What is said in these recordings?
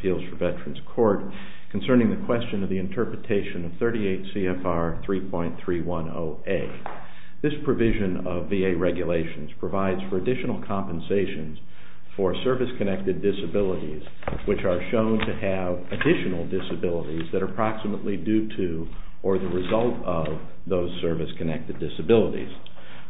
Appeals for Veterans Court Concerning the Question of the Interpretation of 38 C.F.R. 3.310A. This provision of VA regulations provides for the use of the additional compensations for service-connected disabilities, which are shown to have additional disabilities that are approximately due to or the result of those service-connected disabilities.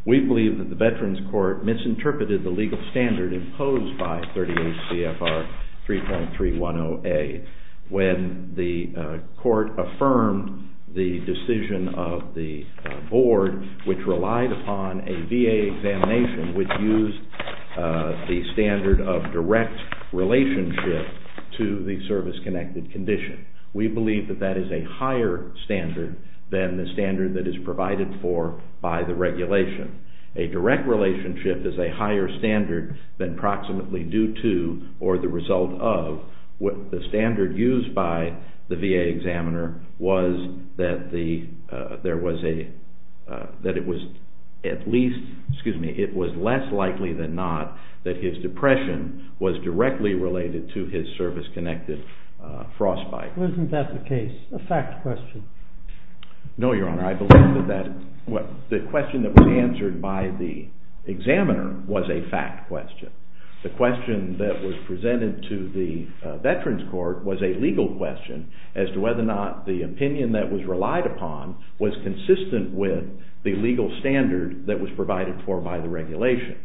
We believe that the Veterans Court misinterpreted the legal standard imposed by 38 C.F.R. 3.310A when the court affirmed the decision of the board which relied upon a VA examination which used the standard of direct relationship to the service-connected condition. We believe that that is a higher standard than the standard that is provided for by the regulation. A direct relationship is a higher standard than approximately due to or the result of what the standard used by the VA examiner was that it was less likely than not that his depression was directly related to his service-connected frostbite. Wasn't that the case, a fact question? No, Your Honor. I believe that the question that was answered by the examiner was a fact question. The question that was presented to the Veterans Court was a legal question as to whether or not the opinion that was relied upon was consistent with the legal standard that was provided for by the regulation.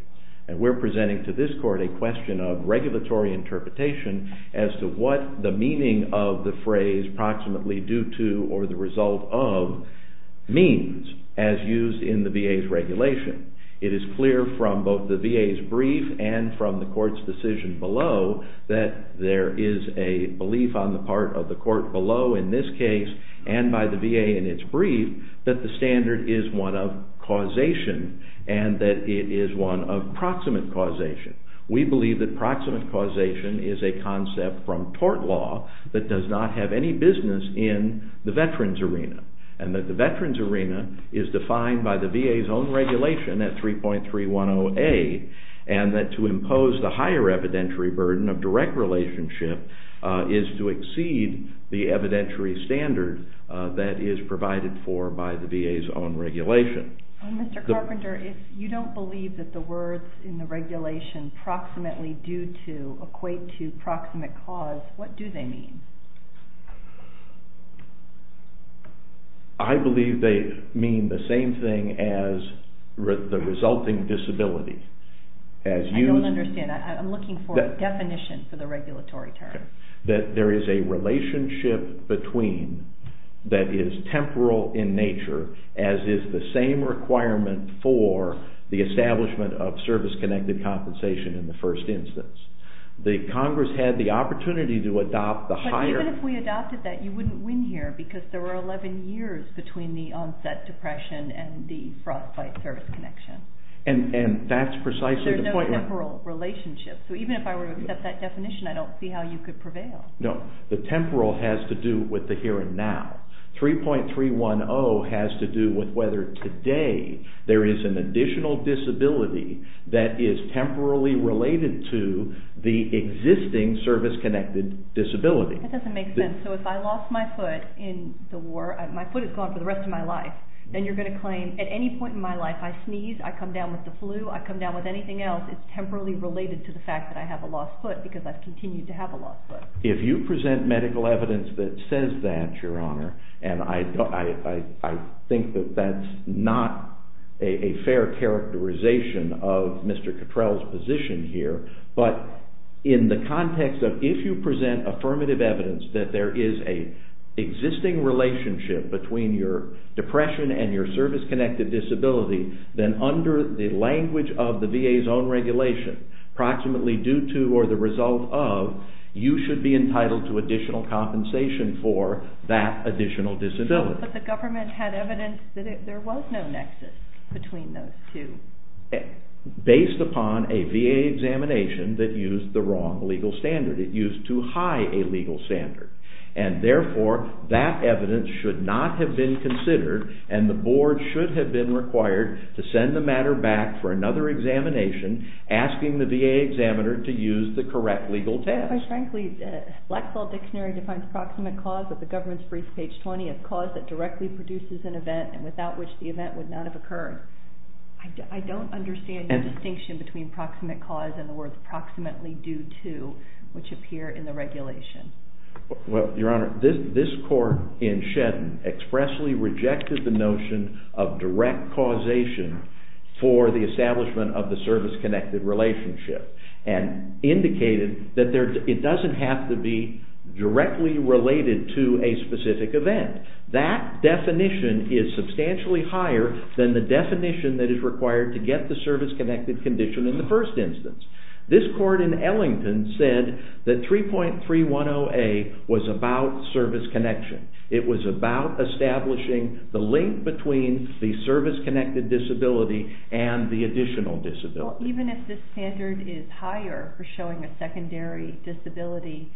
And we're presenting to this court a question of regulatory interpretation as to what the meaning of the phrase approximately due to or the result of means as used in the VA's regulation. It is clear from both the VA's brief and from the court's decision below that there is a belief on the part of the court below in this case and by the VA in its brief that the standard is one of causation and that it is one of proximate causation. We believe that proximate causation is a concept from tort law that does not have any business in the veterans arena and that the veterans arena is defined by the VA's own regulation at 3.310A and that to impose the higher evidentiary burden of direct relationship is to exceed the evidentiary standard that is provided for by the VA's own regulation. Mr. Carpenter, if you don't believe that the words in the regulation approximately due to equate to proximate cause, what do they mean? I believe they mean the same thing as the resulting disability. I don't understand. I'm looking for a definition for the regulatory term. There is a relationship between that is temporal in nature as is the same requirement for the establishment of service-connected compensation in the first instance. The Congress had the opportunity to adopt the higher… But even if we adopted that, you wouldn't win here because there were 11 years between the onset depression and the frostbite service connection. And that's precisely the point. So even if I were to accept that definition, I don't see how you could prevail. No, the temporal has to do with the here and now. 3.310 has to do with whether today there is an additional disability that is temporarily related to the existing service-connected disability. That doesn't make sense. So if I lost my foot in the war, my foot is gone for the rest of my life, then you're going to claim at any point in my life I sneeze, I come down with the flu, I come down with anything else. It's temporally related to the fact that I have a lost foot because I've continued to have a lost foot. If you present medical evidence that says that, Your Honor, and I think that that's not a fair characterization of Mr. Cottrell's position here, but in the context of if you present affirmative evidence that there is an existing relationship between your depression and your service-connected disability, then under the language of the VA's own regulation, approximately due to or the result of, you should be entitled to additional compensation for that additional disability. But the government had evidence that there was no nexus between those two. Based upon a VA examination that used the wrong legal standard. It used too high a legal standard. And therefore, that evidence should not have been considered and the board should have been required to send the matter back for another examination asking the VA examiner to use the correct legal test. Frankly, the Black Saw Dictionary defines approximate cause of the government's brief page 20 as cause that directly produces an event and without which the event would not have occurred. I don't understand the distinction between approximate cause and the words approximately due to, which appear in the regulation. Well, Your Honor, this court in Shedden expressly rejected the notion of direct causation for the establishment of the service-connected relationship. And indicated that it doesn't have to be directly related to a specific event. That definition is substantially higher than the definition that is required to get the service-connected condition in the first instance. This court in Ellington said that 3.310A was about service connection. It was about establishing the link between the service-connected disability and the additional disability. Well, even if the standard is higher for showing a secondary disability,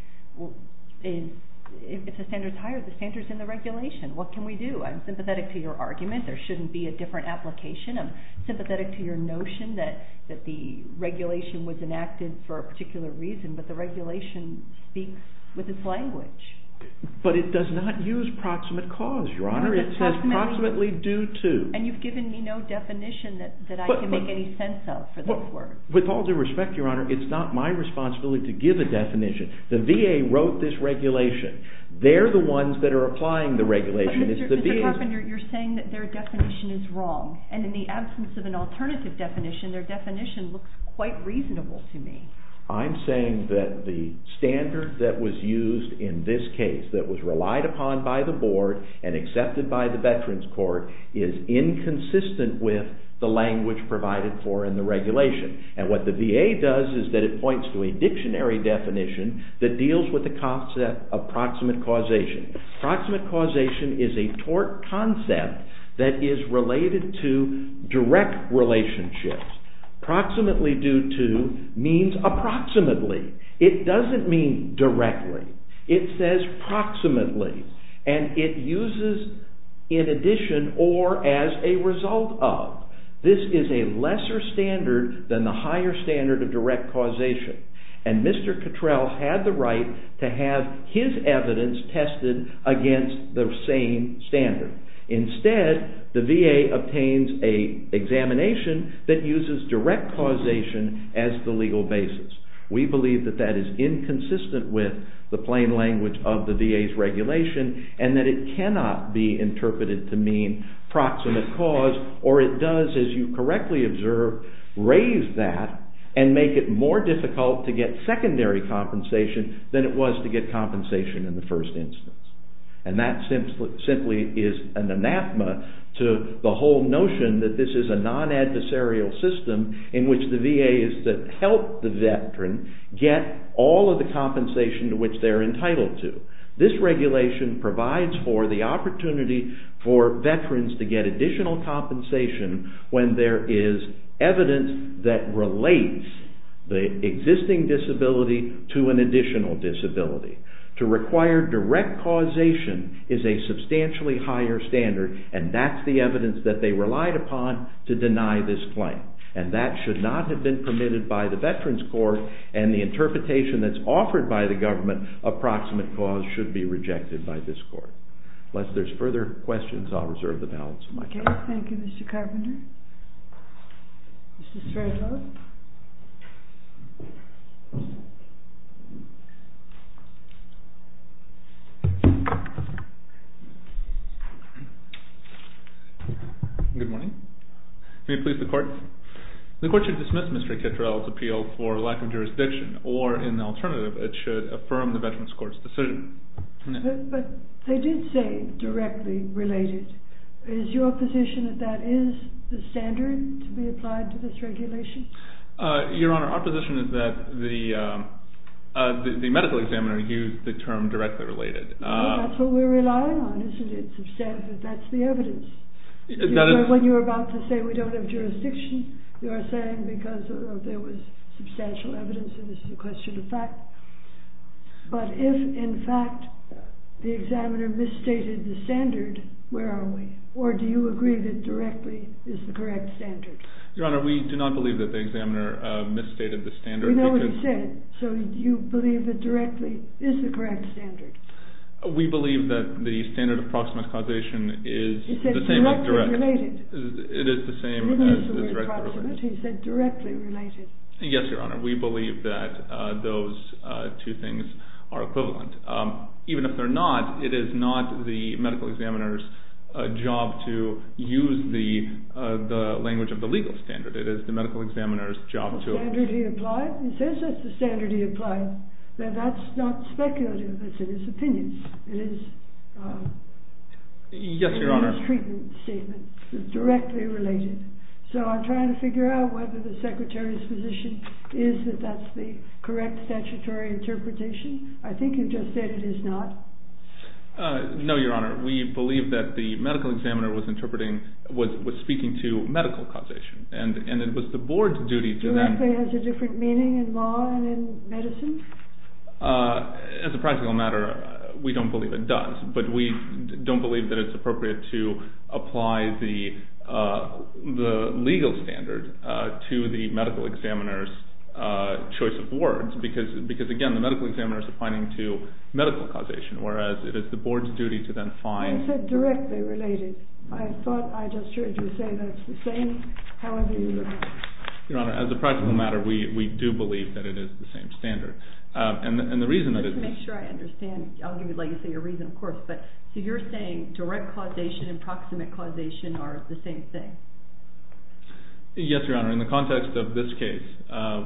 if the standard is higher, the standard is in the regulation. What can we do? I'm sympathetic to your argument. There shouldn't be a different application. I'm sympathetic to your notion that the regulation was enacted for a particular reason, but the regulation speaks with its language. But it does not use proximate cause, Your Honor. It says approximately due to. And you've given me no definition that I can make any sense of for this court. With all due respect, Your Honor, it's not my responsibility to give a definition. The VA wrote this regulation. They're the ones that are applying the regulation. Mr. Carpenter, you're saying that their definition is wrong. And in the absence of an alternative definition, their definition looks quite reasonable to me. I'm saying that the standard that was used in this case, that was relied upon by the board and accepted by the Veterans Court, is inconsistent with the language provided for in the regulation. And what the VA does is that it points to a dictionary definition that deals with the concept of proximate causation. Proximate causation is a tort concept that is related to direct relationships. Approximately due to means approximately. It doesn't mean directly. It says approximately. And it uses in addition or as a result of. This is a lesser standard than the higher standard of direct causation. And Mr. Cottrell had the right to have his evidence tested against the same standard. Instead, the VA obtains an examination that uses direct causation as the legal basis. We believe that that is inconsistent with the plain language of the VA's regulation and that it cannot be interpreted to mean proximate cause. Or it does, as you correctly observe, raise that and make it more difficult to get secondary compensation than it was to get compensation in the first instance. And that simply is an anathema to the whole notion that this is a non-adversarial system in which the VA is to help the Veteran get all of the compensation to which they're entitled to. This regulation provides for the opportunity for Veterans to get additional compensation when there is evidence that relates the existing disability to an additional disability. To require direct causation is a substantially higher standard and that's the evidence that they relied upon to deny this claim. And that should not have been permitted by the Veterans Court and the interpretation that's offered by the government of proximate cause should be rejected by this court. Unless there's further questions, I'll reserve the balance of my time. Okay. Thank you, Mr. Carpenter. Mr. Stradlow? Good morning. May it please the Court? The Court should dismiss Mr. Kittrell's appeal for lack of jurisdiction or, in the alternative, it should affirm the Veterans Court's decision. But they did say directly related. Is your position that that is the standard to be applied to this regulation? Your Honor, our position is that the medical examiner used the term directly related. That's what we're relying on, isn't it? It's absurd, but that's the evidence. When you were about to say we don't have jurisdiction, you are saying because there was substantial evidence and this is a question of fact. But if, in fact, the examiner misstated the standard, where are we? Or do you agree that directly is the correct standard? Your Honor, we do not believe that the examiner misstated the standard. We know what he said, so do you believe that directly is the correct standard? We believe that the standard of proximate causation is the same as direct. He said directly related. It is the same as direct causation. He said directly related. Yes, Your Honor, we believe that those two things are equivalent. Even if they're not, it is not the medical examiner's job to use the language of the legal standard. It is the medical examiner's job to... He says that's the standard he applied. Now, that's not speculative. That's in his opinion. It is his treatment statement, directly related. So I'm trying to figure out whether the secretary's position is that that's the correct statutory interpretation. I think you just said it is not. No, Your Honor. We believe that the medical examiner was speaking to medical causation, and it was the board's duty to then... Directly has a different meaning in law and in medicine? As a practical matter, we don't believe it does, but we don't believe that it's appropriate to apply the legal standard to the medical examiner's choice of words, because, again, the medical examiner is applying to medical causation, whereas it is the board's duty to then find... He said directly related. I thought I just heard you say that's the same, however you look at it. Your Honor, as a practical matter, we do believe that it is the same standard. And the reason that it... Let's make sure I understand. I'll give you, like you say, a reason, of course. So you're saying direct causation and proximate causation are the same thing? Yes, Your Honor. In the context of this case,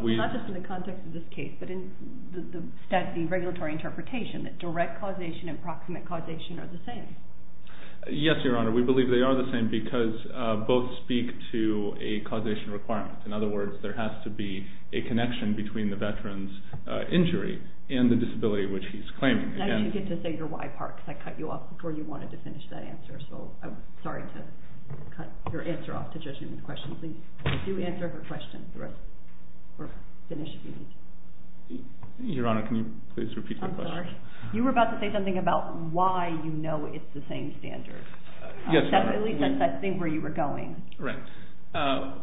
we... Not just in the context of this case, but in the statutory and regulatory interpretation, that direct causation and proximate causation are the same. Yes, Your Honor. We believe they are the same because both speak to a causation requirement. In other words, there has to be a connection between the veteran's injury and the disability which he's claiming. Now you get to say your why part, because I cut you off before you wanted to finish that answer. So I'm sorry to cut your answer off to judge you on the question. Please, if you answer her question, we'll finish the meeting. Your Honor, can you please repeat the question? You were about to say something about why you know it's the same standard. Yes, Your Honor. At least that's, I think, where you were going. Right.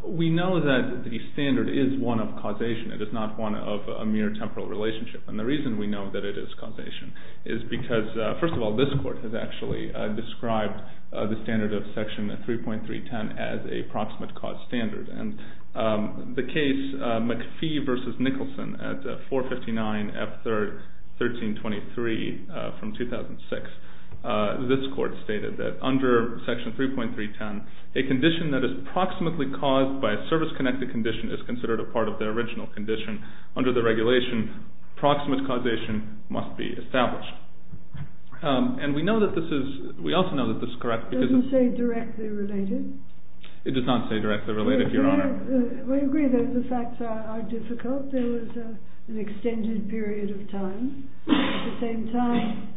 We know that the standard is one of causation. It is not one of a mere temporal relationship. And the reason we know that it is causation is because, first of all, this court has actually described the standard of Section 3.310 as a proximate cause standard. And the case McPhee v. Nicholson at 459 F1323 from 2006, this court stated that under Section 3.310, a condition that is proximately caused by a service-connected condition is considered a part of the original condition. Under the regulation, proximate causation must be established. And we know that this is, we also know that this is correct because... It doesn't say directly related. It does not say directly related, Your Honor. We agree that the facts are difficult. There was an extended period of time. At the same time,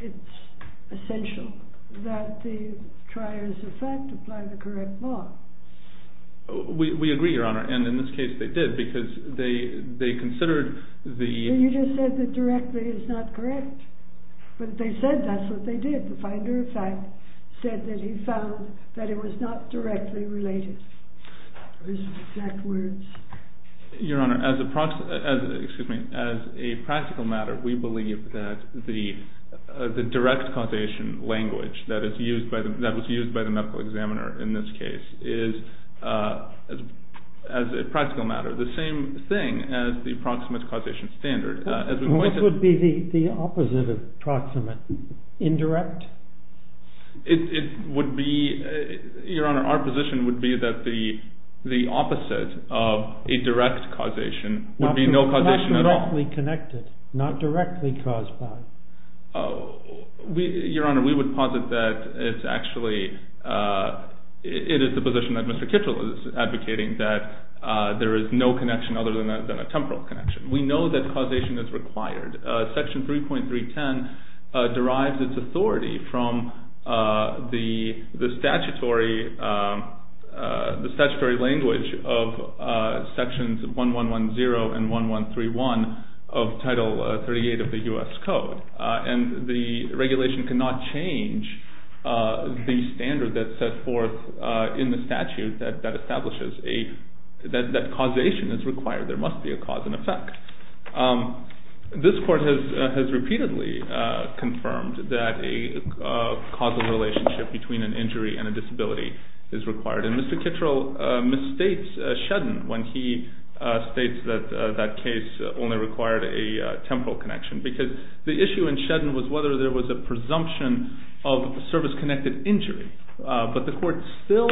it's essential that the triers of fact apply the correct law. We agree, Your Honor. And in this case, they did because they considered the... You just said that directly is not correct. But they said that's what they did. The finder of fact said that he found that it was not directly related. Those exact words. Your Honor, as a practical matter, we believe that the direct causation language that was used by the medical examiner in this case is, as a practical matter, the same thing as the proximate causation standard. What would be the opposite of proximate? Indirect? It would be, Your Honor, our position would be that the opposite of a direct causation would be no causation at all. Not directly connected. Not directly caused by. Your Honor, we would posit that it's actually, it is the position that Mr. Kitchell is advocating that there is no connection other than a temporal connection. We know that causation is required. Section 3.310 derives its authority from the statutory language of Sections 1110 and 1131 of Title 38 of the U.S. Code. And the regulation cannot change the standard that's set forth in the statute that establishes that causation is required. There must be a cause and effect. This Court has repeatedly confirmed that a causal relationship between an injury and a disability is required. And Mr. Kitchell misstates Shedden when he states that that case only required a temporal connection because the issue in Shedden was whether there was a presumption of service-connected injury. But the Court still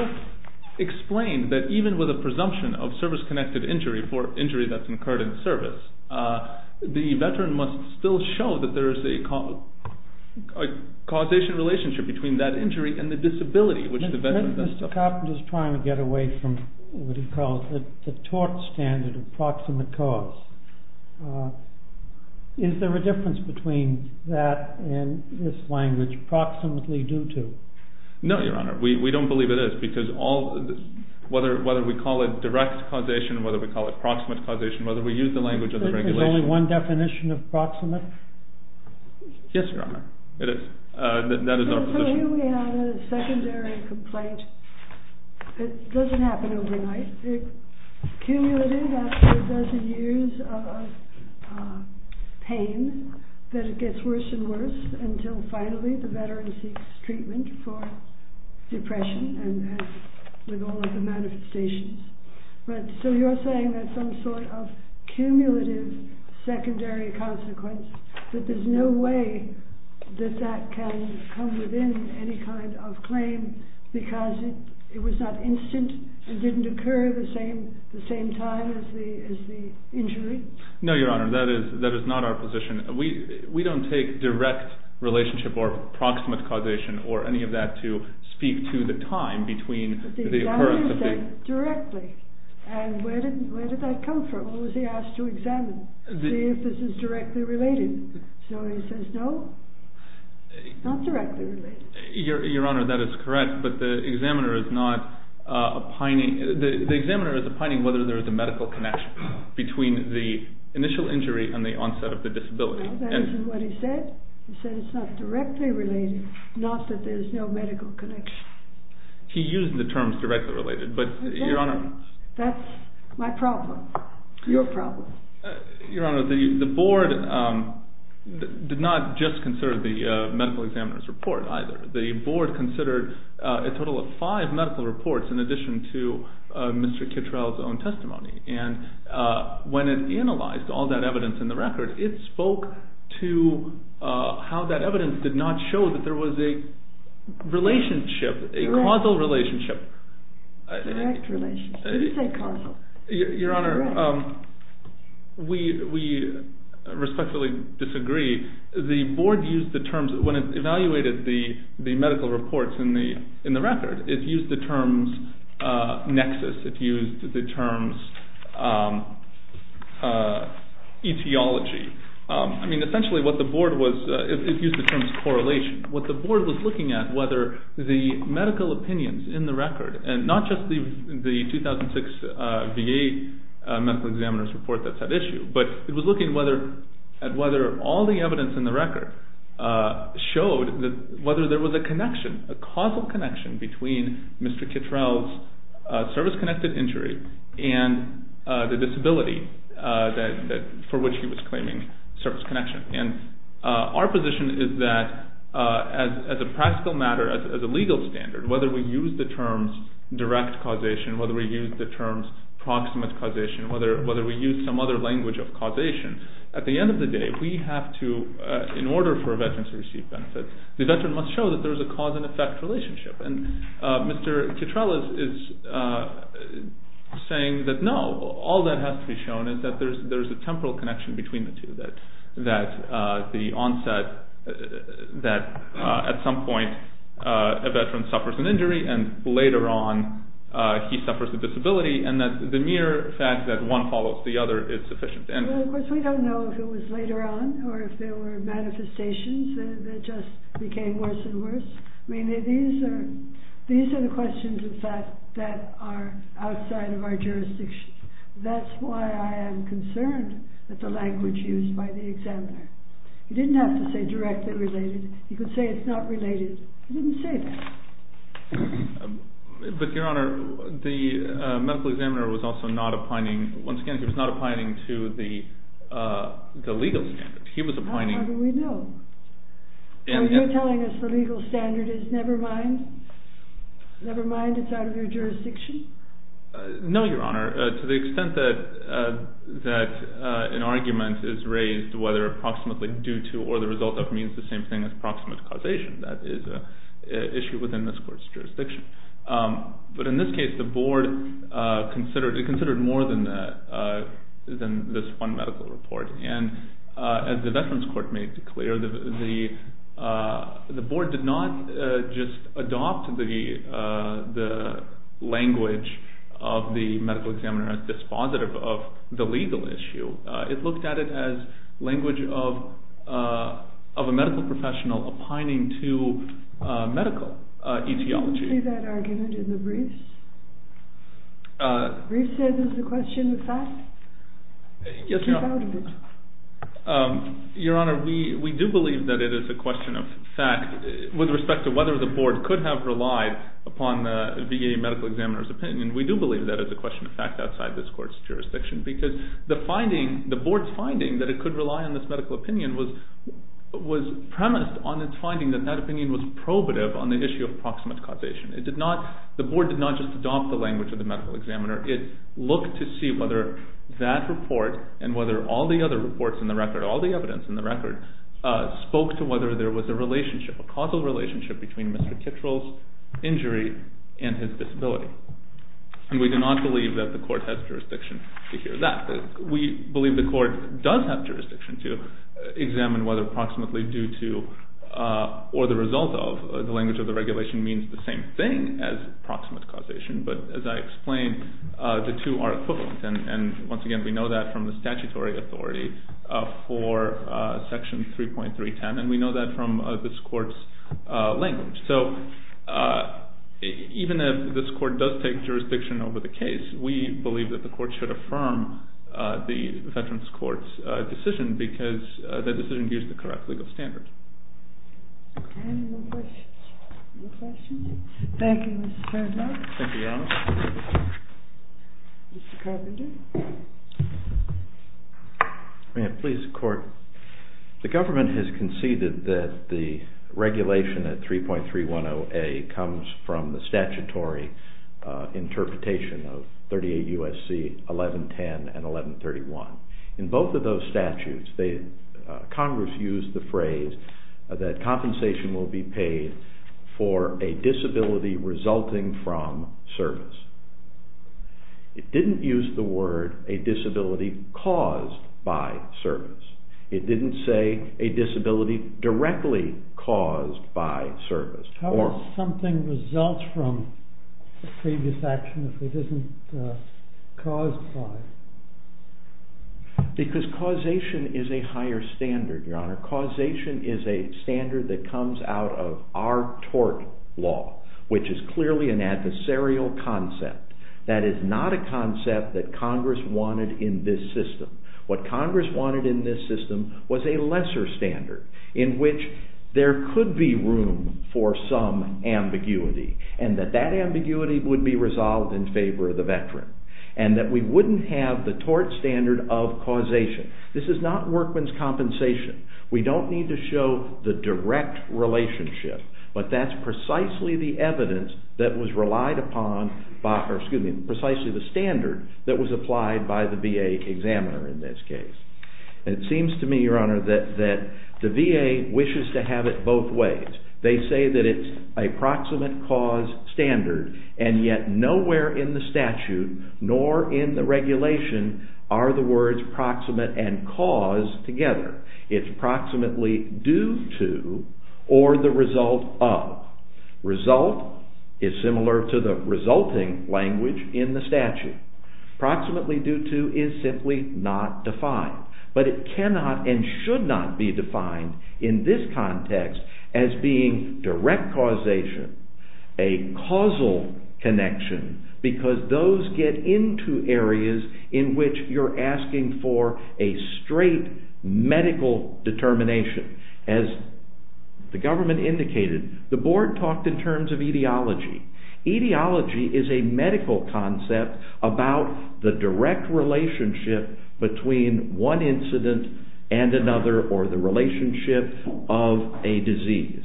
explained that even with a presumption of service-connected injury for injury that's incurred in service, the veteran must still show that there is a causation relationship between that injury and the disability. Mr. Coffman is trying to get away from what he calls the tort standard of proximate cause. Is there a difference between that and this language, proximately due to? No, Your Honor. We don't believe it is because whether we call it direct causation, whether we call it proximate causation, whether we use the language of the regulation. Is there only one definition of proximate? Yes, Your Honor. It is. That is our position. So here we have a secondary complaint. It doesn't happen overnight. It accumulates after a dozen years of pain, that it gets worse and worse until finally the veteran seeks treatment for depression with all of the manifestations. So you're saying that some sort of cumulative secondary consequence, that there's no way that that can come within any kind of claim because it was not instant, it didn't occur at the same time as the injury? No, Your Honor. That is not our position. We don't take direct relationship or proximate causation or any of that to speak to the time between the occurrence of the injury. But the examiner said directly. And where did that come from? What was he asked to examine? See if this is directly related. So he says no, not directly related. Your Honor, that is correct. But the examiner is not opining. The examiner is opining whether there is a medical connection between the initial injury and the onset of the disability. No, that isn't what he said. He said it's not directly related, not that there's no medical connection. He used the terms directly related, but Your Honor. Exactly. That's my problem, your problem. Your Honor, the board did not just consider the medical examiner's report either. The board considered a total of five medical reports in addition to Mr. Kittrell's own testimony. And when it analyzed all that evidence in the record, it spoke to how that evidence did not show that there was a relationship, a causal relationship. Direct relationship. You didn't say causal. Your Honor, we respectfully disagree. The board used the terms when it evaluated the medical reports in the record. It used the terms nexus. It used the terms etiology. I mean, essentially what the board was, it used the terms correlation. What the board was looking at, whether the medical opinions in the record, and not just the 2006 VA medical examiner's report that's at issue, but it was looking at whether all the evidence in the record showed whether there was a connection, a causal connection, between Mr. Kittrell's service-connected injury and the disability for which he was claiming service connection. Our position is that as a practical matter, as a legal standard, whether we use the terms direct causation, whether we use the terms proximate causation, whether we use some other language of causation, at the end of the day we have to, in order for a veteran to receive benefits, the veteran must show that there is a cause-and-effect relationship. And Mr. Kittrell is saying that, no, all that has to be shown is that there is a temporal connection between the two, that the onset that at some point a veteran suffers an injury and later on he suffers a disability, and that the mere fact that one follows the other is sufficient. Well, of course, we don't know if it was later on or if there were manifestations that just became worse and worse. I mean, these are the questions, in fact, that are outside of our jurisdiction. That's why I am concerned with the language used by the examiner. He didn't have to say directly related. He could say it's not related. He didn't say that. But, Your Honor, the medical examiner was also not opining, once again, he was not opining to the legal standard. How do we know? Are you telling us the legal standard is never mind? Never mind, it's out of your jurisdiction? No, Your Honor. To the extent that an argument is raised whether approximately due to or the result of means the same thing as proximate causation, that is an issue within this court's jurisdiction. But in this case the board considered more than this one medical report. And as the Veterans Court made clear, the board did not just adopt the language of the medical examiner as dispositive of the legal issue. It looked at it as language of a medical professional opining to medical etiology. Didn't you see that argument in the briefs? Briefs said it was a question of fact? Yes, Your Honor. Keep out of it. Your Honor, we do believe that it is a question of fact. With respect to whether the board could have relied upon the VA medical examiner's opinion, we do believe that it's a question of fact outside this court's jurisdiction because the board's finding that it could rely on this medical opinion was premised on its finding that that opinion was probative on the issue of proximate causation. The board did not just adopt the language of the medical examiner. It looked to see whether that report and whether all the other reports in the record, all the evidence in the record, spoke to whether there was a causal relationship between Mr. Kittrell's injury and his disability. And we do not believe that the court has jurisdiction to hear that. We believe the court does have jurisdiction to examine whether proximately due to or the result of the language of the regulation means the same thing as proximate causation. But as I explained, the two are equivalent. And once again, we know that from the statutory authority for Section 3.310, and we know that from this court's language. So even if this court does take jurisdiction over the case, we believe that the court should affirm the Veterans Court's decision because that decision gives the correct legal standard. Any more questions? No questions? Thank you, Mr. Turner. Thank you, Your Honor. Mr. Carpenter. May I please, Court? The government has conceded that the regulation at 3.310A comes from the statutory interpretation of 38 U.S.C. 1110 and 1131. In both of those statutes, Congress used the phrase that compensation will be paid for a disability resulting from service. It didn't use the word a disability caused by service. It didn't say a disability directly caused by service. How does something result from a previous action if it isn't caused by it? Because causation is a higher standard, Your Honor. Causation is a standard that comes out of our tort law, which is clearly an adversarial concept. That is not a concept that Congress wanted in this system. What Congress wanted in this system was a lesser standard in which there could be room for some ambiguity and that that ambiguity would be resolved in favor of the veteran and that we wouldn't have the tort standard of causation. This is not workman's compensation. We don't need to show the direct relationship, but that's precisely the evidence that was relied upon by precisely the standard that was applied by the VA examiner in this case. It seems to me, Your Honor, that the VA wishes to have it both ways. They say that it's a proximate cause standard, and yet nowhere in the statute nor in the regulation are the words proximate and cause together. It's proximately due to or the result of. Proximately due to is simply not defined, but it cannot and should not be defined in this context as being direct causation, a causal connection, because those get into areas in which you're asking for a straight medical determination. As the government indicated, the board talked in terms of etiology. Etiology is a medical concept about the direct relationship between one incident and another or the relationship of a disease.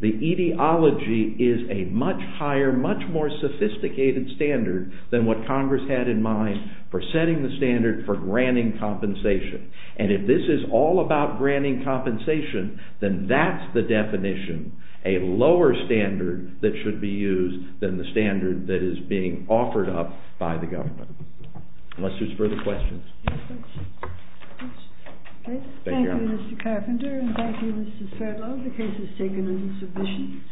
The etiology is a much higher, much more sophisticated standard than what Congress had in mind for setting the standard for granting compensation, and if this is all about granting compensation, then that's the definition, a lower standard that should be used than the standard that is being offered up by the government. Unless there's further questions. Thank you, Mr. Carpenter, and thank you, Mrs. Ferlo. The case is taken in submission.